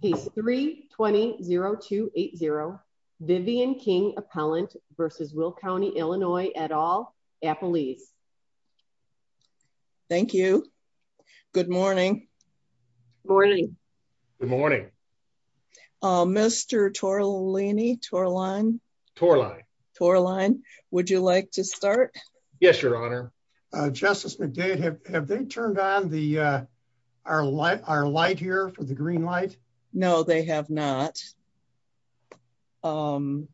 He's 320-280 Vivian King appellant versus Will County, Illinois at all Apple leaves. Thank you. Good morning. Morning. Good morning. Mr. Toro Laney tour line, tour line, tour line. Would you like to start? Yes, Your Honor. Justice have they turned on the our light our light here for the green light? No, they have not. Um,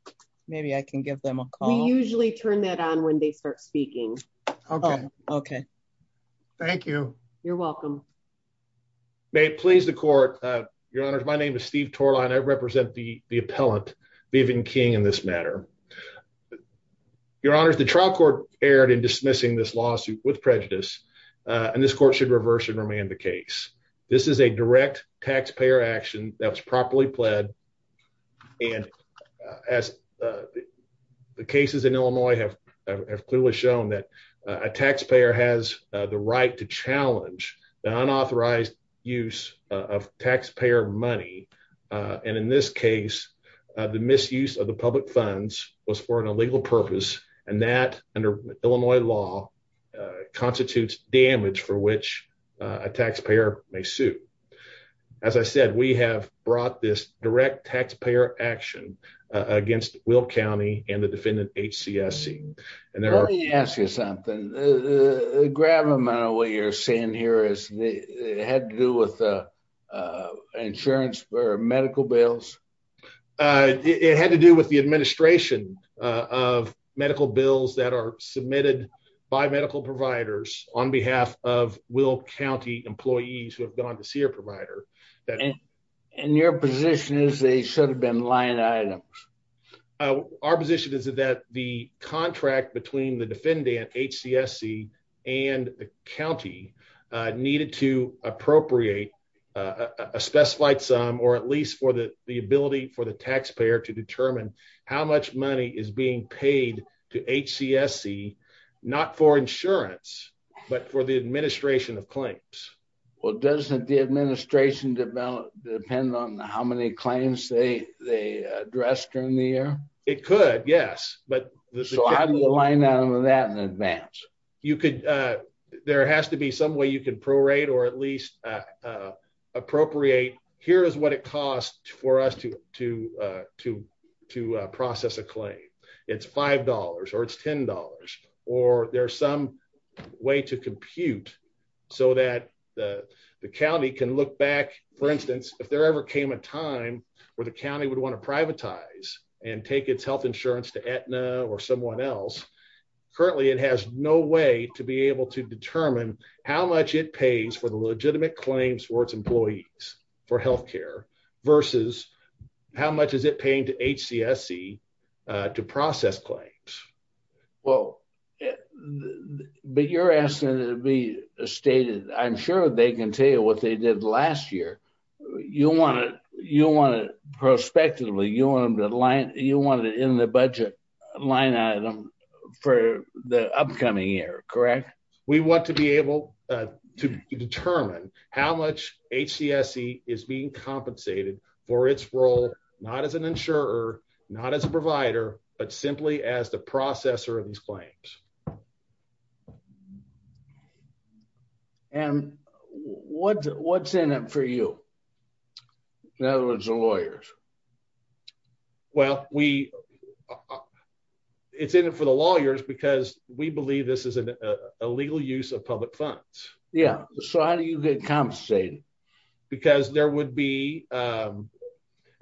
maybe I can give them a call. Usually turn that on when they start speaking. Okay. Okay. Thank you. You're welcome. May it please the court. Your Honor. My name is Steve tour line. I represent the appellant leaving King in this matter. Your Honor. The trial court erred in dismissing this lawsuit with prejudice on this court should reverse and remand the case. This is a direct taxpayer action that was properly pled. And as the cases in Illinois have have clearly shown that a taxpayer has the right to challenge the unauthorized use of was for an illegal purpose. And that under Illinois law constitutes damage for which a taxpayer may suit. As I said, we have brought this direct taxpayer action against Will County and the defendant H. C. S. C. And there are you ask you something? Grab him out of what you're saying here is it had to do with, uh, insurance for medical bills. Uh, it had to do with the administration of medical bills that are submitted by medical providers on behalf of Will County employees who have gone to see your provider that in your position is they should have been line items. Uh, our position is that the contract between the defendant H. C. S. C. And the county needed to appropriate a specified some or at least for the ability for the taxpayer to determine how much money is being paid to H. C. S. C. Not for insurance, but for the administration of claims. Well, doesn't the administration develop depend on how many claims they they addressed during the year? It could. Yes. But so how do you align out of that in advance? You could, uh, there has to be some way you can prorate or at least, uh, appropriate. Here is what it cost for us to to, uh, to to process a claim. It's $5 or it's $10. Or there's some way to compute so that the county can look back, for instance, if there ever came a time where the county would want to privatize and take its health insurance to Aetna or someone else. Currently, it has no way to be able to determine how much it pays for the legitimate claims for its employees for health care versus how much is it paying to H. C. S. C. Uh, to process claims. Well, but you're asking to be stated. I'm sure they can tell you what they did last year. You want it. You want it prospectively. You want him to line. You wanted in the budget line item for the how much H. C. S. C. Is being compensated for its role, not as an insurer, not as a provider, but simply as the processor of these claims. And what's what's in it for you? In other words, the lawyers. Well, we it's in it for the lawyers because we believe this is a legal use of public Yeah. So how do you get compensated? Because there would be, um,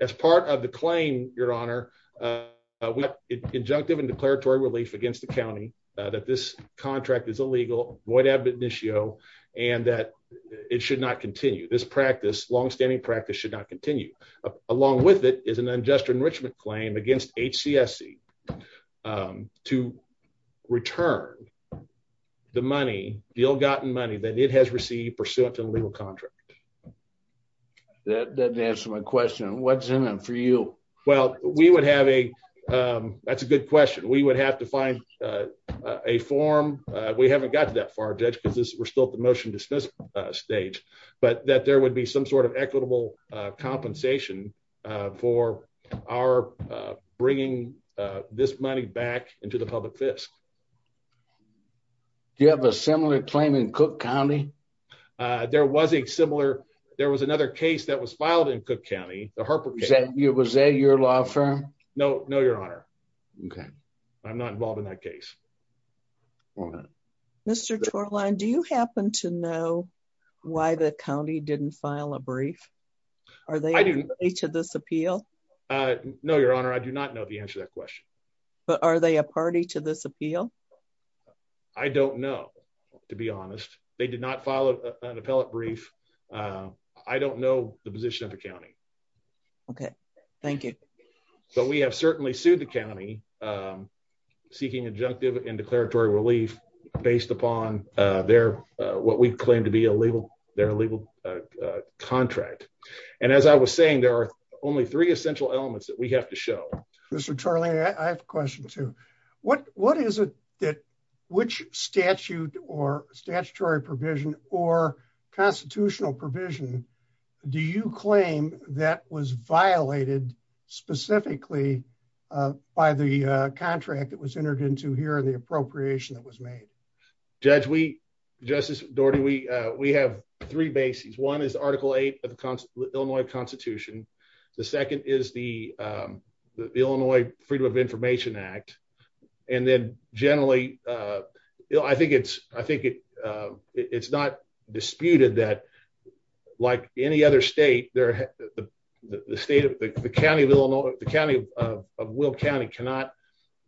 as part of the claim, your honor, uh, what injunctive and declaratory relief against the county that this contract is illegal, void of initio and that it should not continue this practice. Longstanding practice should not continue along with it is an unjust enrichment claim against H. C. S. C. Um, to return the money, the ill gotten money that it has received pursuant to the legal contract. That doesn't answer my question. What's in it for you? Well, we would have a, um, that's a good question. We would have to find, uh, a form. We haven't got that far judge because we're still at the motion dismissal stage, but that there would be some sort of equitable compensation for our bringing this money back into the public fist. Do you have a similar claim in Cook County? Uh, there was a similar. There was another case that was filed in Cook County. The Harper said it was a your law firm. No, no, your honor. Okay, I'm not involved in that case. All right, Mr. Shoreline, do you happen to know why the county didn't file a brief? Are they to this appeal? Uh, no, your honor. I do not know the answer that question. But are they a party to this appeal? I don't know. To be honest, they did not follow an appellate brief. Uh, I don't know the position of the county. Okay, thank you. But we have certainly sued the county, um, seeking injunctive and declaratory relief based upon their what we claim to be a legal, their legal, uh, contract. And as I was saying, there are only three essential elements that we have to show. Mr Charlie, I have a question to what? What is it that which statute or statutory provision or constitutional provision? Do you claim that was violated specifically by the contract that was entered into here in the appropriation that was made? Judge, we Justice Doherty, we have three bases. One is Article eight of the Illinois Constitution. The second is the, um, the Illinois Freedom of Information Act. And then generally, uh, I think it's I think it's not disputed that, like any other state there, the state of the county of Illinois, the county of Will County cannot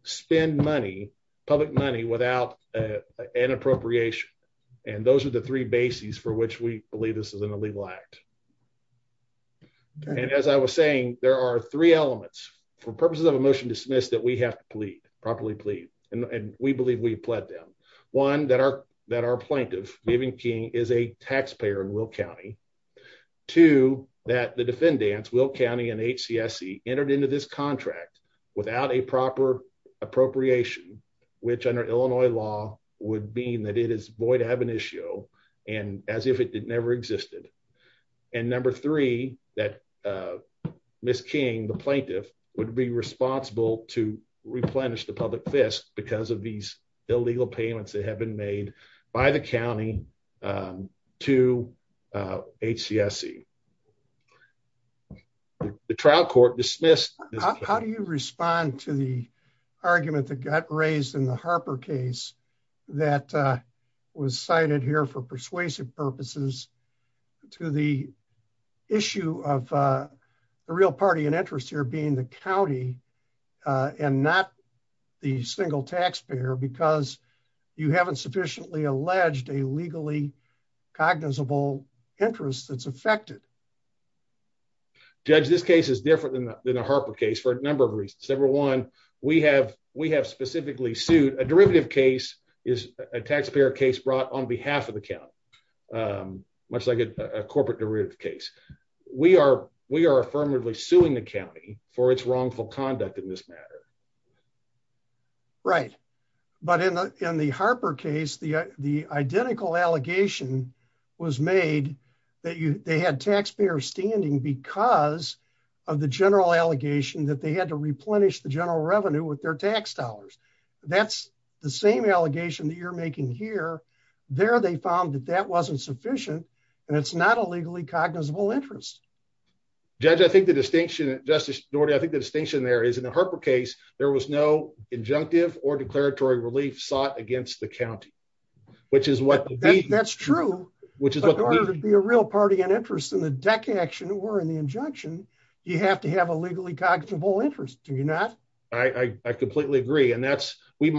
spend money, public money without an appropriation. And those are the three bases for which we believe this is an illegal act. And as I was saying, there are three elements for purposes of a motion dismissed that we have to plead properly plead, and we believe we pled them one that are that are plaintiff giving King is a taxpayer in Will County to that the defendants will county and H. C. S. C. Entered into this contract without a proper appropriation, which, under Illinois law, would mean that it is void of an issue and as if it never existed. And this king, the plaintiff would be responsible to replenish the public fist because of these illegal payments that have been made by the county, um, to, uh, H. C. S. C. The trial court dismissed. How do you respond to the argument that got raised in the Harper case that was cited here for persuasive purposes to the issue of the real party in interest here being the county on not the single taxpayer because you haven't sufficiently alleged a legally cognizable interest that's affected. Judge, this case is different than the Harper case for a number of reasons. Everyone we have. We have specifically sued a derivative case is a taxpayer case brought on behalf of the count. Um, much like a corporate derivative case. We are. We are affirmatively suing the county for its wrongful conduct in this matter. Right. But in the Harper case, the identical allegation was made that they had taxpayers standing because of the general allegation that they had to replenish the general revenue with their tax dollars. That's the same allegation that you're making here. There they found that that wasn't sufficient and it's not a legally cognizable interest. Judge, I think the distinction, Justice Norton, I think the distinction there is in the Harper case, there was no injunctive or declaratory relief sought against the county, which is what that's true, which is going to be a real party in interest in the deck action or in the injunction. You have to have a legally cognizant of all interest. Do you not? I completely agree. And that's we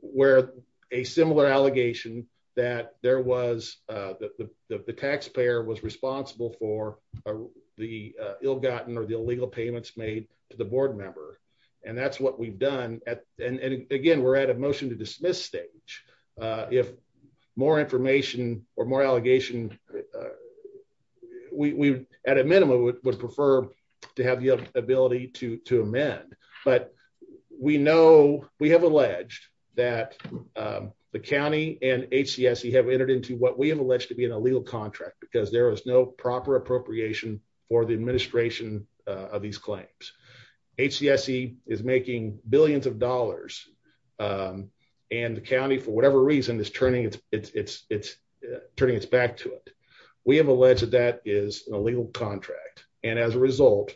where a similar allegation that there was, uh, the taxpayer was responsible for the ill gotten or the illegal payments made to the board member. And that's what we've done. And again, we're at a motion to dismiss stage. Uh, if more information or more allegation, uh, we at a minimum would prefer to have the ability to to amend. But we know we have alleged that, um, the county and H. C. S. E. Have entered into what we have alleged to be an illegal contract because there is no proper appropriation for the administration of these claims. H. C. S. E. Is making billions of dollars. Um, and the county, for whatever reason, is turning its turning its back to it. We have alleged that that is a legal contract. And as a result,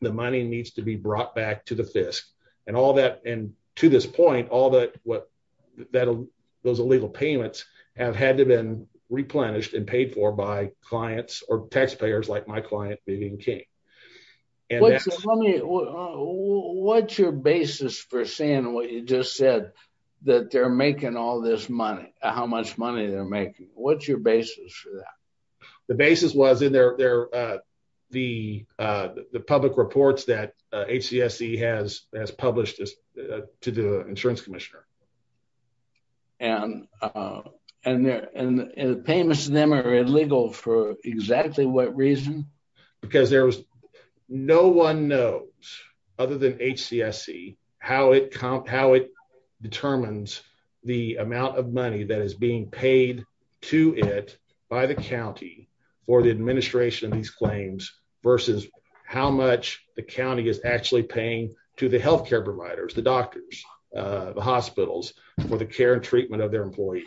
the money needs to be brought back to the fist and all that. And to this point, all that what that those illegal payments have had to been replenished and paid for by clients or taxpayers like my client being king. And what's your basis for saying what you just said that they're making all this money? How your basis for that? The basis was in their, uh, the, uh, the public reports that H. C. S. E. Has has published to the insurance commissioner. And, uh, and the payments to them are illegal for exactly what reason? Because there was no one knows other than H. C. S. E. How it how it determines the amount of money that is being paid to it by the county for the administration of these claims versus how much the county is actually paying to the health care providers, the doctors, the hospitals for the care and treatment of their employees.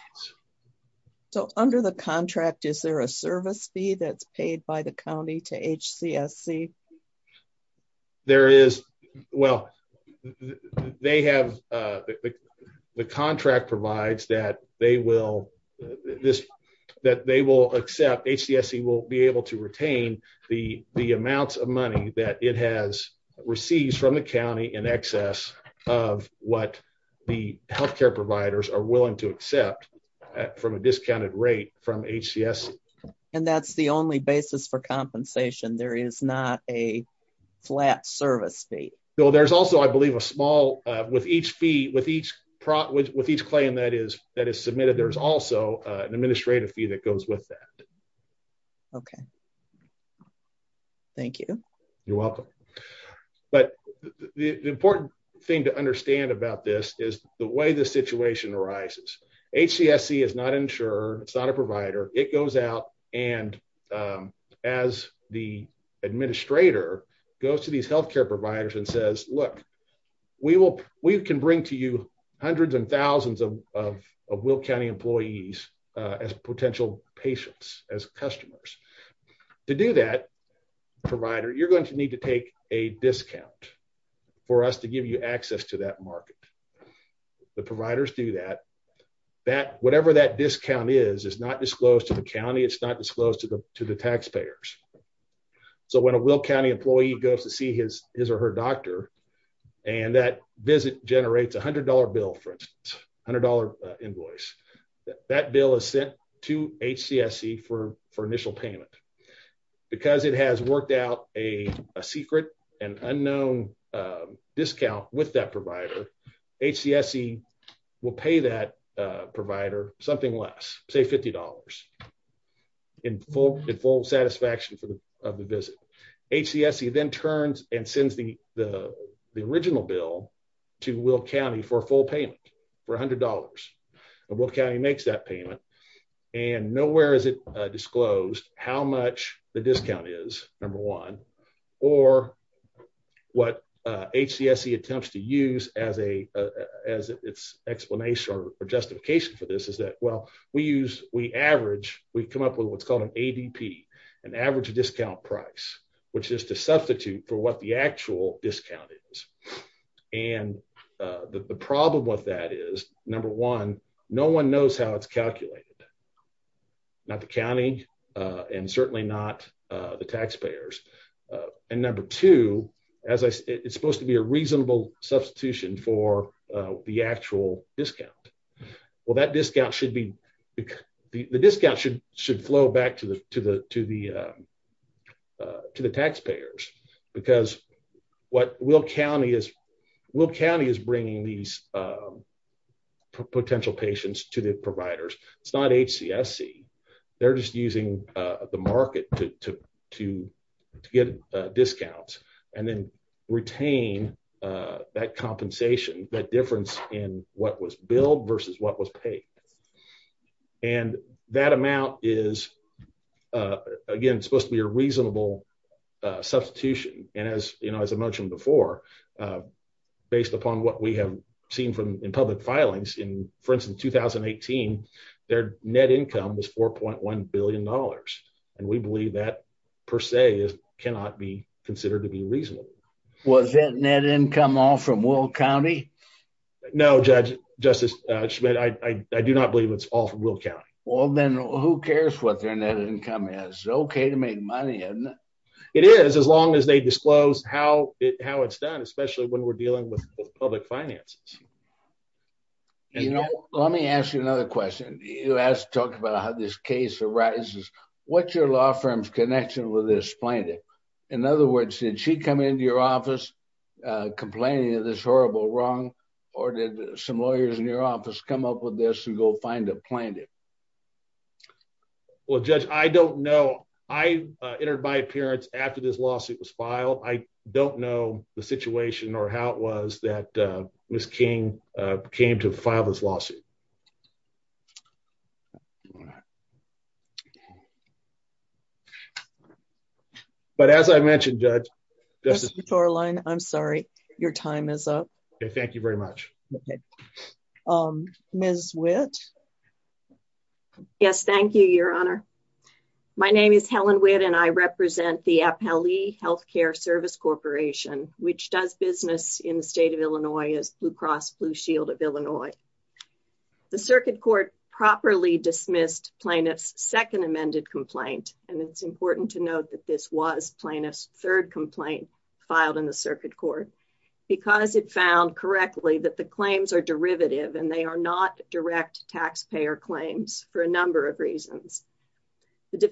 So under the contract, is there a service fee that's paid by the county to H. C. S. C. There is. Well, they have the contract provides that they will this that they will accept. H. C. S. E. Will be able to retain the amounts of money that it has received from the county in excess of what the health care providers are basis for compensation. There is not a flat service fee. So there's also, I believe, a small with each fee with each with each claim that is that is submitted. There's also an administrative fee that goes with that. Okay. Thank you. You're welcome. But the important thing to understand about this is the way the situation arises. H. C. S. C. Is not insured. It's not a and, um, as the administrator goes to these health care providers and says, look, we will. We can bring to you hundreds and thousands of Will County employees as potential patients as customers. To do that provider, you're going to need to take a discount for us to give you access to that market. The providers do that, that whatever that discount is is not disclosed to the county. It's not disclosed to the to the taxpayers. So when a Will County employee goes to see his his or her doctor and that visit generates $100 bill for $100 invoice, that bill is sent to H. C. S. C. For for initial payment because it has worked out a secret and unknown discount with that H. C. S. C. Will pay that provider something less, say $50 in full in full satisfaction of the visit. H. C. S. C. Then turns and sends the the original bill to Will County for full payment for $100. Will County makes that payment and nowhere is it disclosed how much the discount is number one or what H. C. S. C. Attempts to use as a as its explanation or justification for this is that well we use we average we come up with what's called an A. D. P. An average discount price which is to substitute for what the actual discount is. And uh the problem with that is number one, no one knows how it's calculated, not the county uh and certainly not uh the taxpayers. Uh And number two, as I it's supposed to be a reasonable substitution for uh the actual discount. Well that discount should be the discount should should flow back to the to the to the uh to the taxpayers because what will county is will county is bringing these uh potential patients to the providers. It's not H. C. S. C. They're just using the market to to to get discounts and then retain uh that compensation, that difference in what was billed versus what was paid and that amount is uh again supposed to be a reasonable substitution. And as you know, as I mentioned before, uh based upon what we have seen from in public filings in for instance, 2018, their net income was $4.1 billion and we believe that per se is cannot be considered to be reasonable. Was that net income all from will county? No, Judge Justice Schmidt, I do not believe it's all from will county. Well then who cares what their net income is okay to make money. It is as long as they disclose how how it's done, especially when we're dealing with public finances. You know, let me ask you another question. You asked to talk about how this case arises. What's your law firm's connection with this plaintiff? In other words, did she come into your office complaining of this horrible wrong or did some lawyers in your office come up with this and go find a plaintiff? Well, Judge, I don't know. I entered my appearance after this lawsuit was filed. I don't know the situation or how it was that uh Miss King uh came to file this lawsuit. All right. But as I mentioned, Judge, this is your line. I'm sorry. Your time is up. Thank you very much. Okay. Um Ms. Wit Yes. Thank you, Your Honor. My name is Helen Witt and I represent the Appellee Healthcare Service Corporation, which does business in the state of Illinois as Blue Cross Blue Shield of Illinois. The circuit court properly dismissed plaintiff's second amended complaint. And it's important to note that this was plaintiff's third complaint filed in the circuit court because it found correctly that the claims are derivative and they are not direct taxpayer claims for a number of reasons. The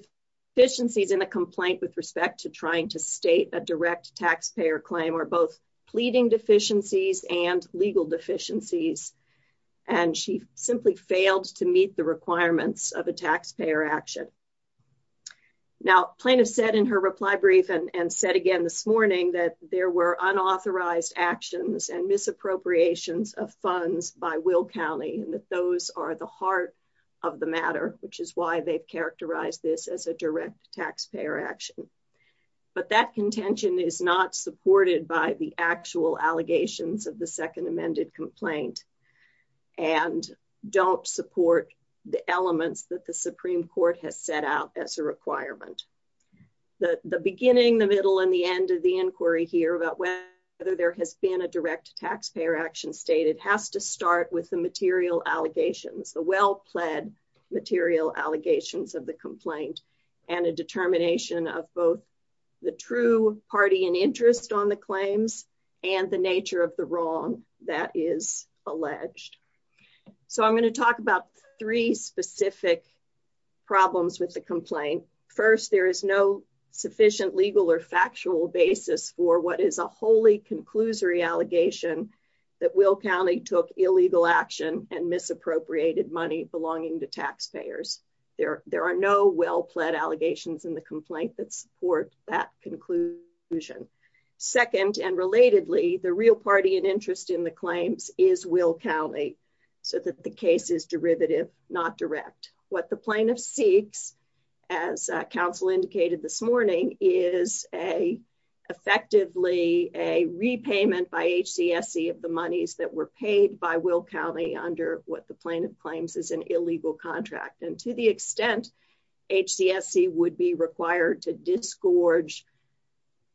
deficiencies in a complaint with respect to trying to state a direct taxpayer claim are both pleading deficiencies and legal deficiencies. And she simply failed to meet the requirements of a taxpayer action. Now, plaintiff said in her reply brief and said again this morning that there were unauthorized actions and misappropriations of funds by Will County and that those are the heart of the matter, which is why they've characterized this as a direct taxpayer action. But that contention is not supported by the actual allegations of the second amended complaint and don't support the elements that the Supreme Court has set out as a requirement. The beginning, the middle and the end of the inquiry here about whether there has been a direct taxpayer action state, it has to start with the material allegations, the well pled material allegations of the complaint and a determination of both the true party and interest on the claims and the nature of the wrong that is alleged. So I'm going to talk about three specific problems with the complaint. First, there is no sufficient legal or allegation that Will County took illegal action and misappropriated money belonging to taxpayers. There are no well pled allegations in the complaint that support that conclusion. Second and relatedly, the real party and interest in the claims is Will County so that the case is derivative, not direct. What the plaintiff seeks, as council indicated this morning, is a effectively a repayment by H. C. S. C. Of the monies that were paid by Will County under what the plaintiff claims is an illegal contract. And to the extent H. C. S. C. Would be required to disgorge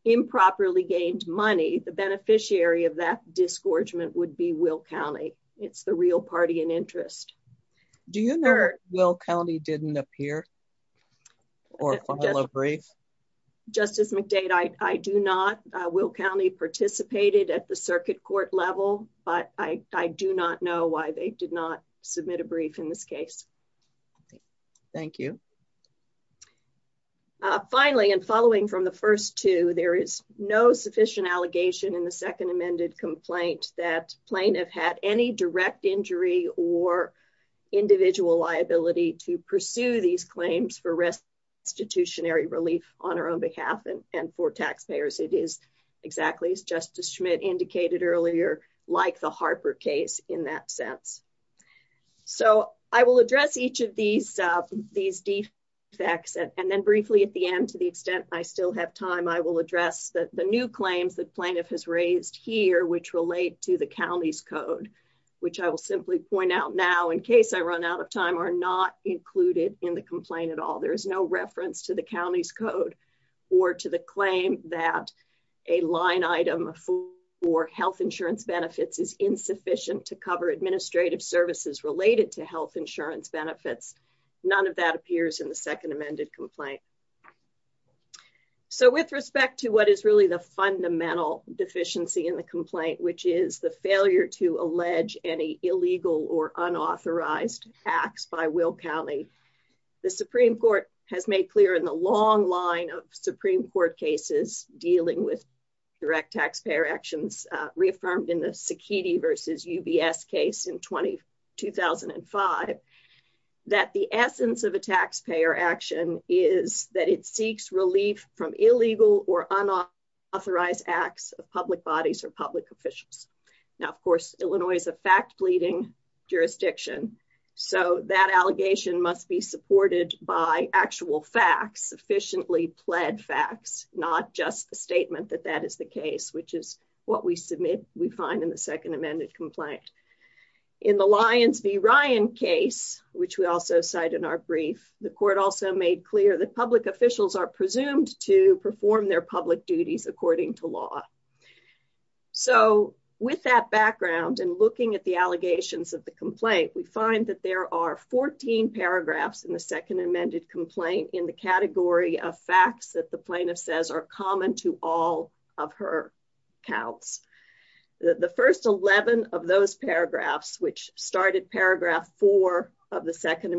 improperly gained money. The beneficiary of that disgorgement would be Will County. It's the real party and interest. Do you know Will County didn't appear or follow brief Justice McDade? I do not. Will County participated at the circuit court level, but I do not know why they did not submit a brief in this case. Thank you. Finally, and following from the 1st to there is no sufficient allegation in the second amended complaint that plaintiff had any direct injury or individual liability to pursue these claims for rest. Institutionary relief on her own behalf and for taxpayers. It is exactly as Justice Schmidt indicated earlier, like the Harper case in that sense. So I will address each of these these defects and then briefly at the end. To the extent I still have time, I will address that the new claims that plaintiff has raised here, which relate to the county's code, which I will simply point out now, in case I run out of time, are not included in the complaint at all. There is no reference to the county's code or to the claim that a line item for health insurance benefits is insufficient to cover administrative services related to health insurance benefits. None of that appears in the second amended complaint. So, with respect to what is really the fundamental deficiency in the complaint, which is the failure to allege any illegal or unauthorized tax by Will County, the Supreme Court has made clear in the long line of Supreme Court cases dealing with direct taxpayer actions reaffirmed in the Sikiti versus UBS case in 20 2005 that the essence of a taxpayer action is that it seeks relief from illegal or unauthorized acts of public bodies or public officials. Now, of course, Illinois is a fact bleeding jurisdiction, so that allegation must be supported by actual facts, sufficiently pled facts, not just the statement that that is the case, which is what we submit. We find in the second amended complaint in the Lions v Ryan case, which we also cite in our brief. The court also made clear that public officials are presumed to perform their public duties according to law. So with that background and looking at the allegations of the complaint, we find that there are 14 paragraphs in the second amended complaint in the category of facts that the plaintiff says are common to all of her counts. The 1st 11 of those paragraphs, which started paragraph four of the second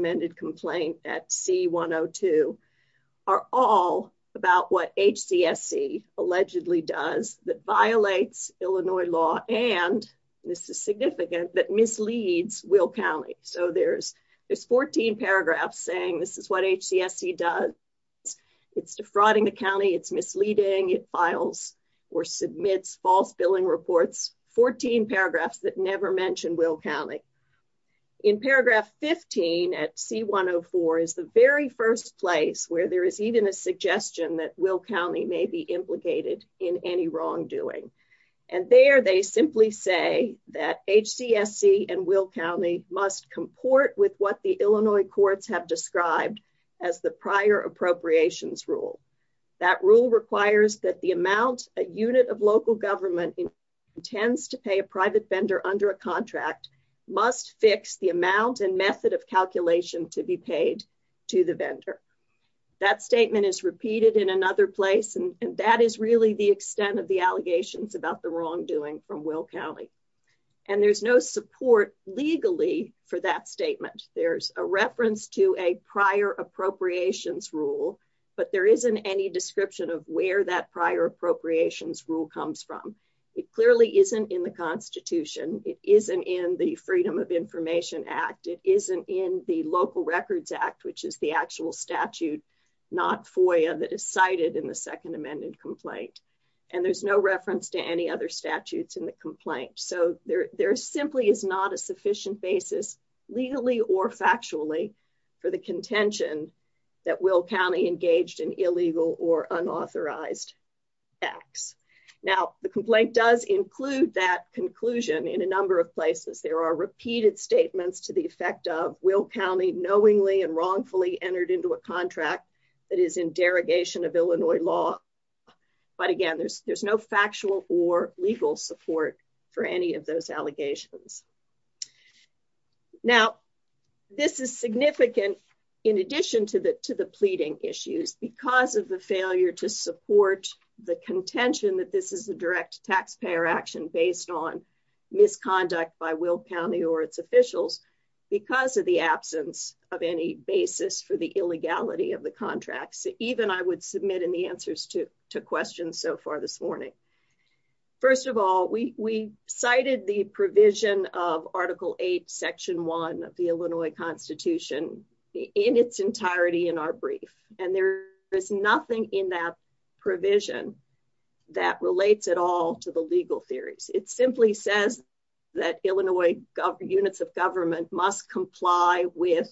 that violates Illinois law. And this is significant that misleads will county. So there's there's 14 paragraphs saying this is what HCS he does. It's defrauding the county. It's misleading. It files or submits false billing reports. 14 paragraphs that never mentioned will county in paragraph 15 at C. 104 is the very first place where there is even a obligated in any wrongdoing. And there they simply say that H. C. S. C. And will county must comport with what the Illinois courts have described as the prior appropriations rule. That rule requires that the amount a unit of local government intends to pay a private vendor under a contract must fix the amount and method of calculation to be paid to the vendor. That statement is repeated in another place, and that is really the extent of the allegations about the wrongdoing from will county. And there's no support legally for that statement. There's a reference to a prior appropriations rule, but there isn't any description of where that prior appropriations rule comes from. It clearly isn't in the Constitution. It isn't in the Freedom of Information Act. It isn't in the Local Records Act, which is the actual statute, not for you that is cited in the Second Amendment complaint, and there's no reference to any other statutes in the complaint. So there there simply is not a sufficient basis legally or factually for the contention that will county engaged in illegal or unauthorized X. Now the complaint does include that conclusion in a number of places. There are repeated statements to the effect of will county knowingly and wrongfully entered into a contract that is in derogation of Illinois law. But again, there's there's no factual or legal support for any of those allegations. Now, this is significant in addition to the to the pleading issues because of the failure to support the contention that this is a direct taxpayer action based on misconduct by will county or its officials because of the absence of any basis for the illegality of the contracts. Even I would submit in the answers to two questions so far this morning. First of all, we cited the provision of Article eight, Section one of the Illinois Constitution in its entirety in our brief, and there is nothing in that provision that relates it all to the legal theories. It simply says that Illinois units of government must comply with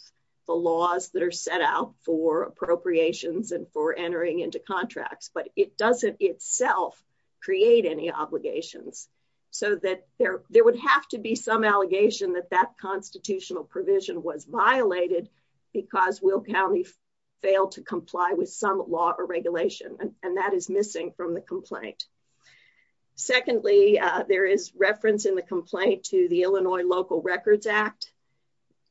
the laws that are set out for appropriations and for entering into contracts. But it doesn't itself create any obligations so that there there would have to be some allegation that that constitutional provision was violated because will county failed to comply with some law or regulation, and that is missing from the complaint. Secondly, there is reference in the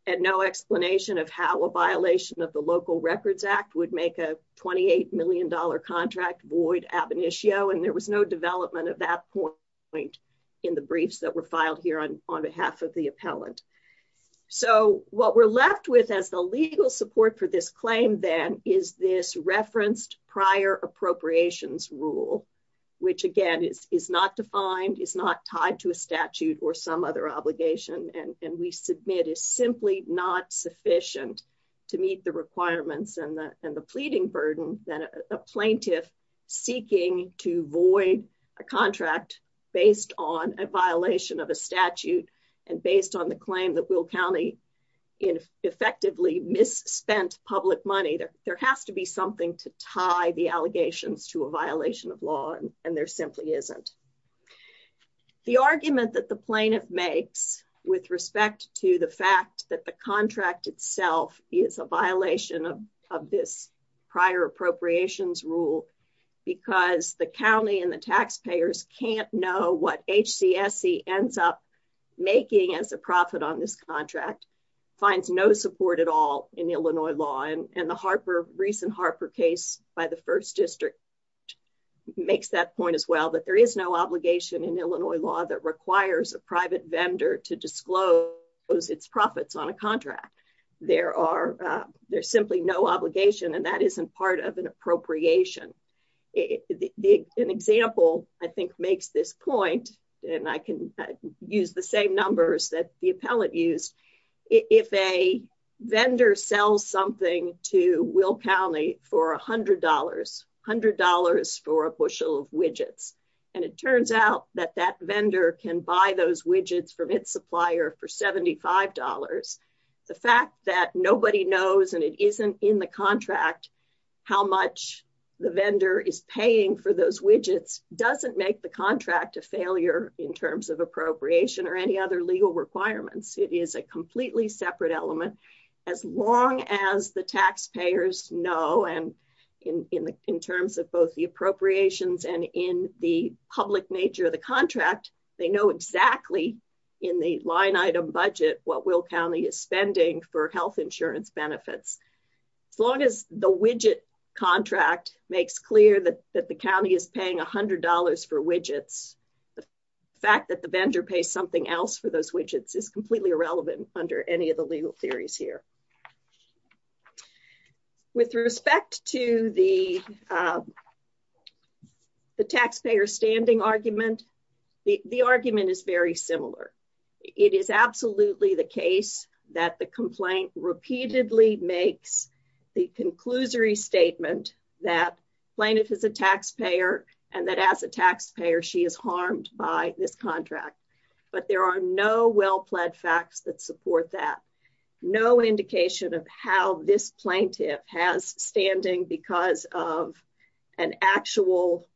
at no explanation of how a violation of the Local Records Act would make a $28 million contract void ab initio, and there was no development of that point in the briefs that were filed here on behalf of the appellant. So what we're left with as the legal support for this claim, then, is this referenced prior appropriations rule, which again is not defined, is not tied to a statute or some other obligation, and we submit is simply not sufficient to meet the requirements and the pleading burden that a plaintiff seeking to void a contract based on a violation of a statute and based on the claim that will county effectively misspent public money. There has to be something to tie the allegations to a violation of law, and there simply isn't. The argument that the plaintiff makes with respect to the fact that the contract itself is a violation of this prior appropriations rule because the county and the taxpayers can't know what H. C. S. C. Ends up making as a profit on this contract finds no support at all in Illinois law and the Harper recent Harper case by the first district makes that point as well that there is no private vendor to disclose its profits on a contract. There are there's simply no obligation, and that isn't part of an appropriation. An example, I think, makes this point, and I can use the same numbers that the appellant used. If a vendor sells something to will county for $100 $100 for a bushel of widgets, and it turns out that that vendor can buy those widgets from its supplier for $75. The fact that nobody knows and it isn't in the contract how much the vendor is paying for those widgets doesn't make the contract a failure in terms of appropriation or any other legal requirements. It is a completely separate element. As long as the taxpayers know and in in in terms of both the appropriations and in the public nature of the contract, they know exactly in the line item budget what will county is spending for health insurance benefits. As long as the widget contract makes clear that that the county is paying $100 for widgets. The fact that the vendor pays something else for those widgets is completely irrelevant under any of the legal theories here with respect to the, uh, the taxpayer standing argument. The argument is very similar. It is absolutely the case that the complaint repeatedly makes the conclusory statement that plaintiff is a taxpayer and that as a taxpayer, she is harmed by this contract. But there are no well led facts that support that no indication of how this plaintiff has standing because of an actual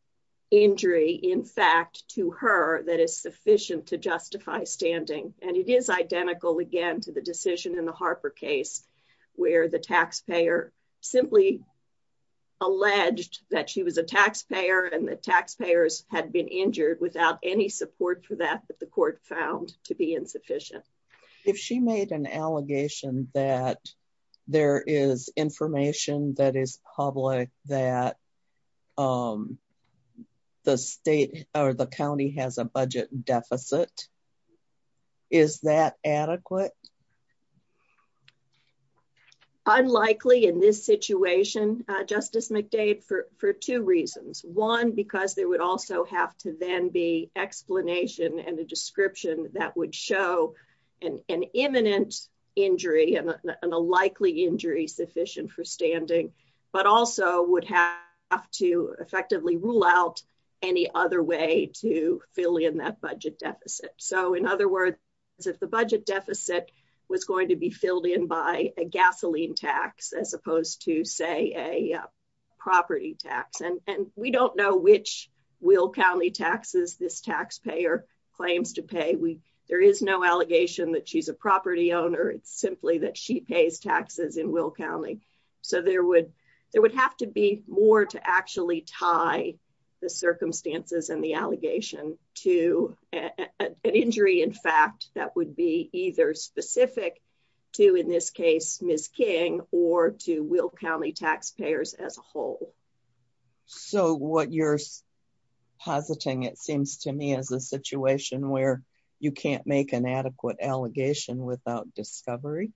injury. In fact, to her, that is sufficient to justify standing. And it is identical again to the decision in the Harper case, where the taxpayer simply alleged that she was a taxpayer and the taxpayers had been injured without any support for that. But the court found to be insufficient. If she made an allegation that there is information that is public, that, um, the state or the county has a budget deficit, is that adequate? Unlikely in this situation, Justice McDade for two reasons. One because there would also have to then be explanation and a description that would show an imminent injury and a likely injury sufficient for standing, but also would have to effectively rule out any other way to fill in that budget deficit. So in other words, if the budget deficit was going to be filled in by a gasoline tax as opposed to, say, a property tax, and we don't know which will county taxes this taxpayer claims to pay, we there is no allegation that she's a property owner. It's simply that she pays taxes in Will County. So there would there would have to be more to actually tie the circumstances and the allegation to an injury. In fact, that would be either specific to in this case, Miss King or to Will County taxpayers as a whole. So what you're positing, it seems to me as a situation where you can't make an adequate allegation without discovery.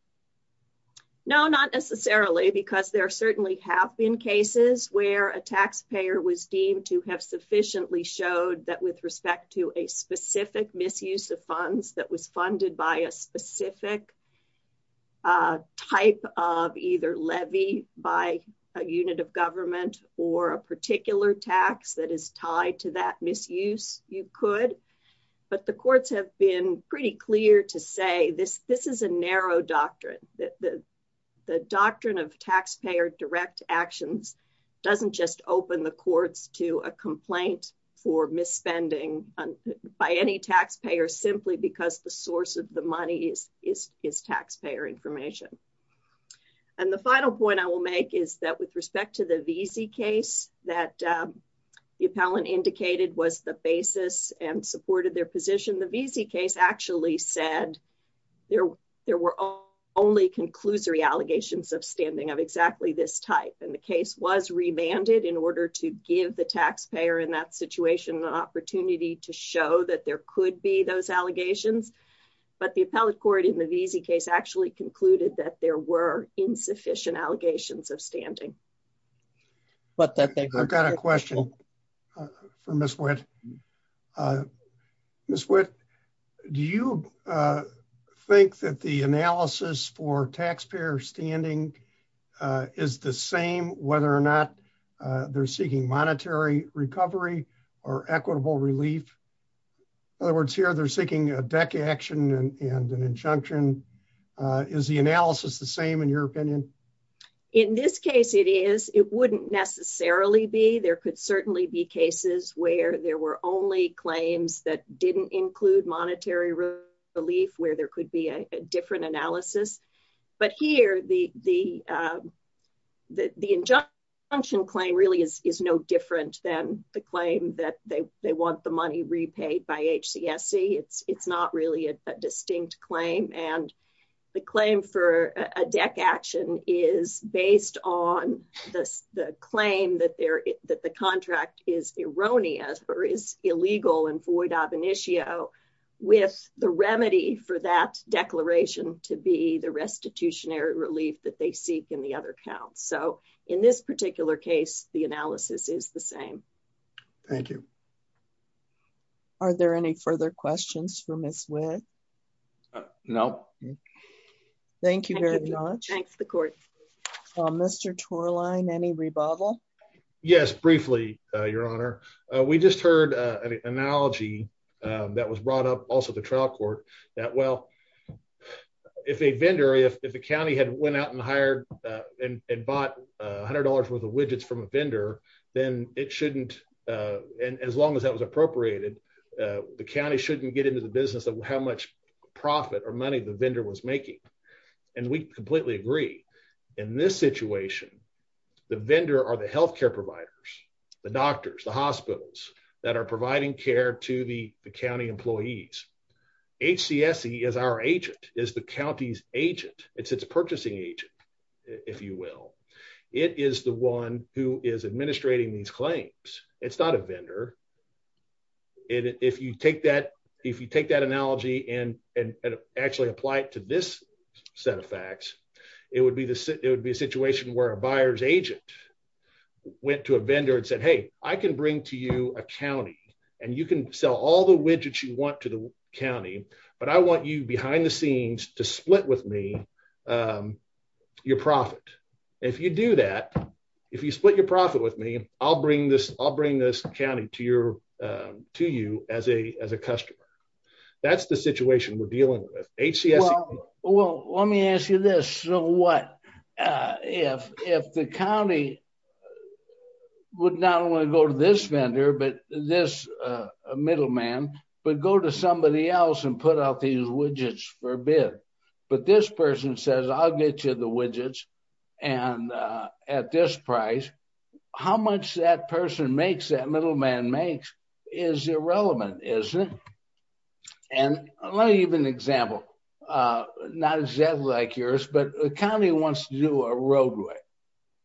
No, not necessarily, because there certainly have been cases where a taxpayer was deemed to have sufficiently showed that with respect to a specific misuse of funds that was funded by a specific type of either government or a particular tax that is tied to that misuse, you could. But the courts have been pretty clear to say this. This is a narrow doctrine that the the doctrine of taxpayer direct actions doesn't just open the courts to a complaint for misspending by any taxpayer, simply because the source of the money is is is taxpayer information. And the final point I will make is that with respect to the VZ case that the appellant indicated was the basis and supported their position, the VZ case actually said there there were only conclusory allegations of standing of exactly this type. And the case was remanded in order to give the taxpayer in that situation an opportunity to show that there could be those allegations. But the appellate court in the VZ case actually concluded that there were insufficient allegations of standing. But I've got a question for Miss Whit. Uh, Miss Whit, do you, uh, think that the analysis for taxpayer standing, uh, is the same whether or not they're seeking monetary recovery or equitable relief? In other words, here, they're the same in your opinion. In this case, it is. It wouldn't necessarily be. There could certainly be cases where there were only claims that didn't include monetary relief, where there could be a different analysis. But here, the the, uh, the injunction claim really is no different than the claim that they want the money repaid by H. C. S. C. It's not really a distinct claim, and the claim for a deck action is based on the claim that there that the contract is erroneous or is illegal and void of an issue with the remedy for that declaration to be the restitution air relief that they seek in the other count. So in this particular case, the analysis is the same. Thank you. Are there any further questions for Miss Whit? No. Thank you very much. Thanks. The court. Mr. Tour line. Any rebuttal? Yes. Briefly, Your Honor. We just heard an analogy that was brought up also the trial court that well, if a vendor if the county had went out and hired and bought $100 worth of widgets from a vendor, then it shouldn't. And as long as that was appropriated, the county shouldn't get into the business of how much profit or money the vendor was making. And we completely agree in this situation. The vendor are the health care providers, the doctors, the hospitals that are providing care to the county employees. H. C. S. C. Is our agent is the county's agent. It's the one who is administrating these claims. It's not a vendor. If you take that, if you take that analogy and and actually apply it to this set of facts, it would be the it would be a situation where a buyer's agent went to a vendor and said, Hey, I can bring to you a county and you can sell all the widgets you want to the county. But I want you behind the scenes to split with me. Um, your profit. If you do that, if you split your profit with me, I'll bring this. I'll bring this county to your to you as a as a customer. That's the situation we're dealing with. H. C. S. Well, let me ask you this. So what if if the county would not only go to this vendor, but this middleman, but go to somebody else and put out these widgets for a bid. But this person says, I'll get you the widgets and at this price, how much that person makes that middleman makes is irrelevant, isn't it? And let me give an example. Uh, not exactly like yours, but the county wants to do a roadway.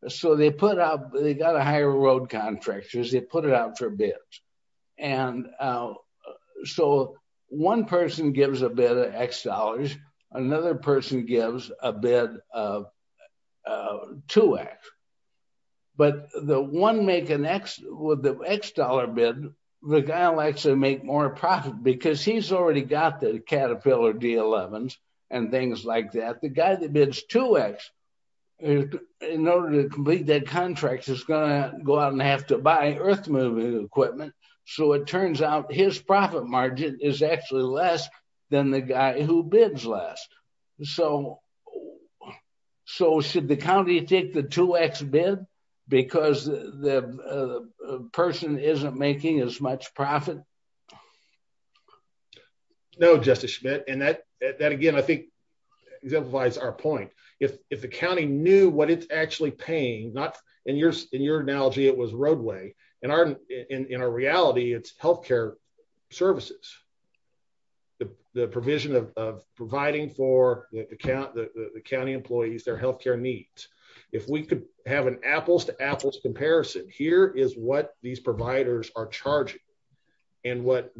So they put out, they got a higher road it out for bids. And, uh, so one person gives a bit of X dollars. Another person gives a bit of two X. But the one make an X with the X dollar bid, the guy likes to make more profit because he's already got the Caterpillar D elevens and things like that. The guy that bids two X in order to complete their contracts is gonna go out and have to buy earth moving equipment. So it turns out his profit margin is actually less than the guy who bids last. So, so should the county take the two X bid because the person isn't making as much profit? No, Justice Schmidt. And that again, I think exemplifies our point. If the in your, in your analogy, it was roadway in our, in our reality, it's health care services, the provision of providing for the account, the county employees, their health care needs. If we could have an apples to apples comparison, here is what these providers are charging and what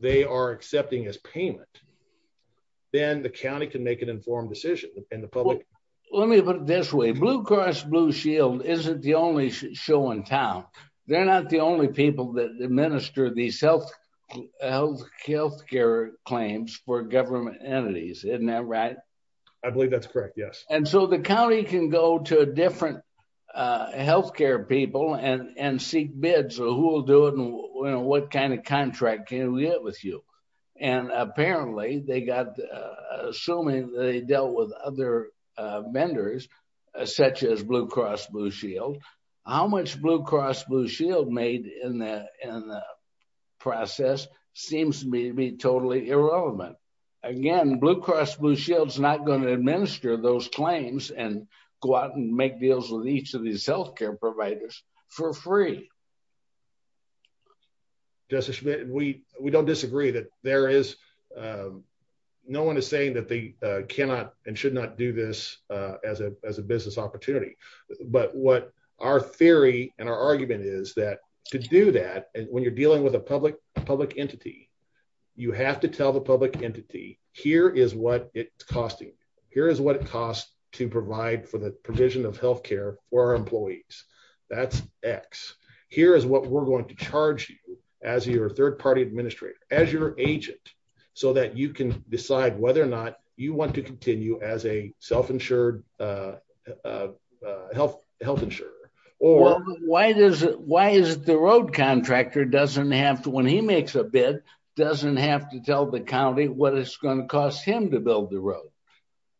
they are accepting as payment, then the county can make an informed decision and the isn't the only show in town. They're not the only people that administer these health health care claims for government entities. Isn't that right? I believe that's correct. Yes. And so the county can go to a different health care people and and seek bids. So who will do it? And what kind of contract can we get with you? And apparently they got assuming they dealt with other vendors such as Blue Cross Blue Shield. How much Blue Cross Blue Shield made in the in the process seems to be totally irrelevant. Again, Blue Cross Blue Shield is not going to administer those claims and go out and make deals with each of these health care providers for free. Justice Schmidt, we we don't disagree that there is, uh, no one is saying that they cannot and should not do this, uh, as a as a business opportunity. But what our theory and our argument is that to do that when you're dealing with a public public entity, you have to tell the public entity here is what it's costing. Here is what it costs to provide for the provision of health care for our employees. That's X. Here is what we're going to charge you as your third party administrator as your agent so that you can decide whether or you want to continue as a self insured, uh, uh, health health insurer or why does why is the road contractor doesn't have to when he makes a bid, doesn't have to tell the county what it's going to cost him to build the road.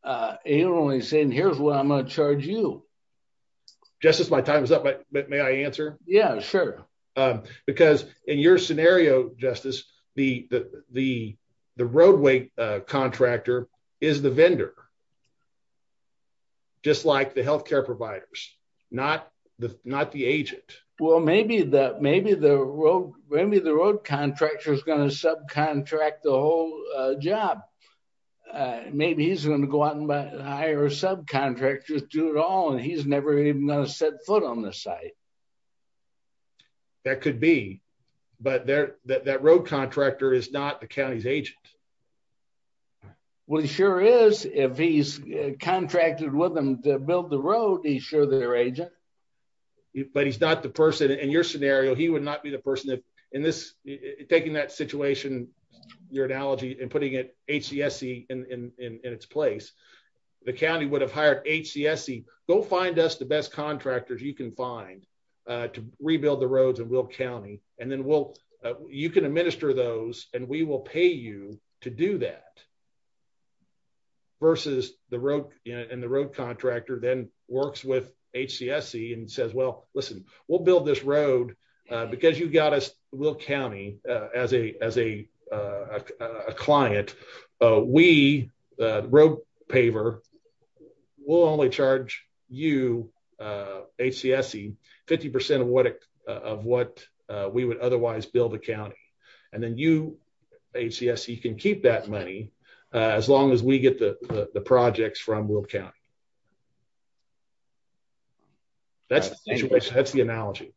Uh, he only saying here's what I'm gonna charge you. Justice. My time is up. But may I answer? Yeah, sure. Um, because in your contractor is the vendor just like the health care providers, not not the agent. Well, maybe that maybe the road, maybe the road contractor is going to subcontract the whole job. Uh, maybe he's going to go out and hire subcontractors do it all and he's never even gonna set foot on the site. That could be. But that road contractor is not the county's agent. Well, he sure is. If he's contracted with them to build the road, he's sure their agent, but he's not the person in your scenario. He would not be the person in this, taking that situation, your analogy and putting it H. C. S. C. In its place, the county would have hired H. C. S. C. Go find us the best contractors you can find, uh, to rebuild the roads and will county and then we'll you can administer those and we will pay you to do that versus the road and the road contractor then works with H. C. S. C. And says, well, listen, we'll build this road because you got us will county as a as a, uh, client. We wrote paver will only charge you. Uh, H. C. S. C. 50% of of what we would otherwise build a county. And then you H. C. S. You can keep that money as long as we get the projects from will count. That's that's the analogy.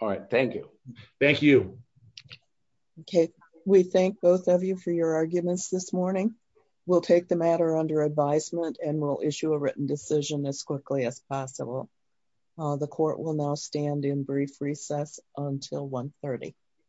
All right. Thank you. Thank you. Okay. We thank both of you for your arguments this morning. We'll take the matter under advisement and we'll issue a written decision as quickly as possible. The court will now stand in brief recess until 1 30.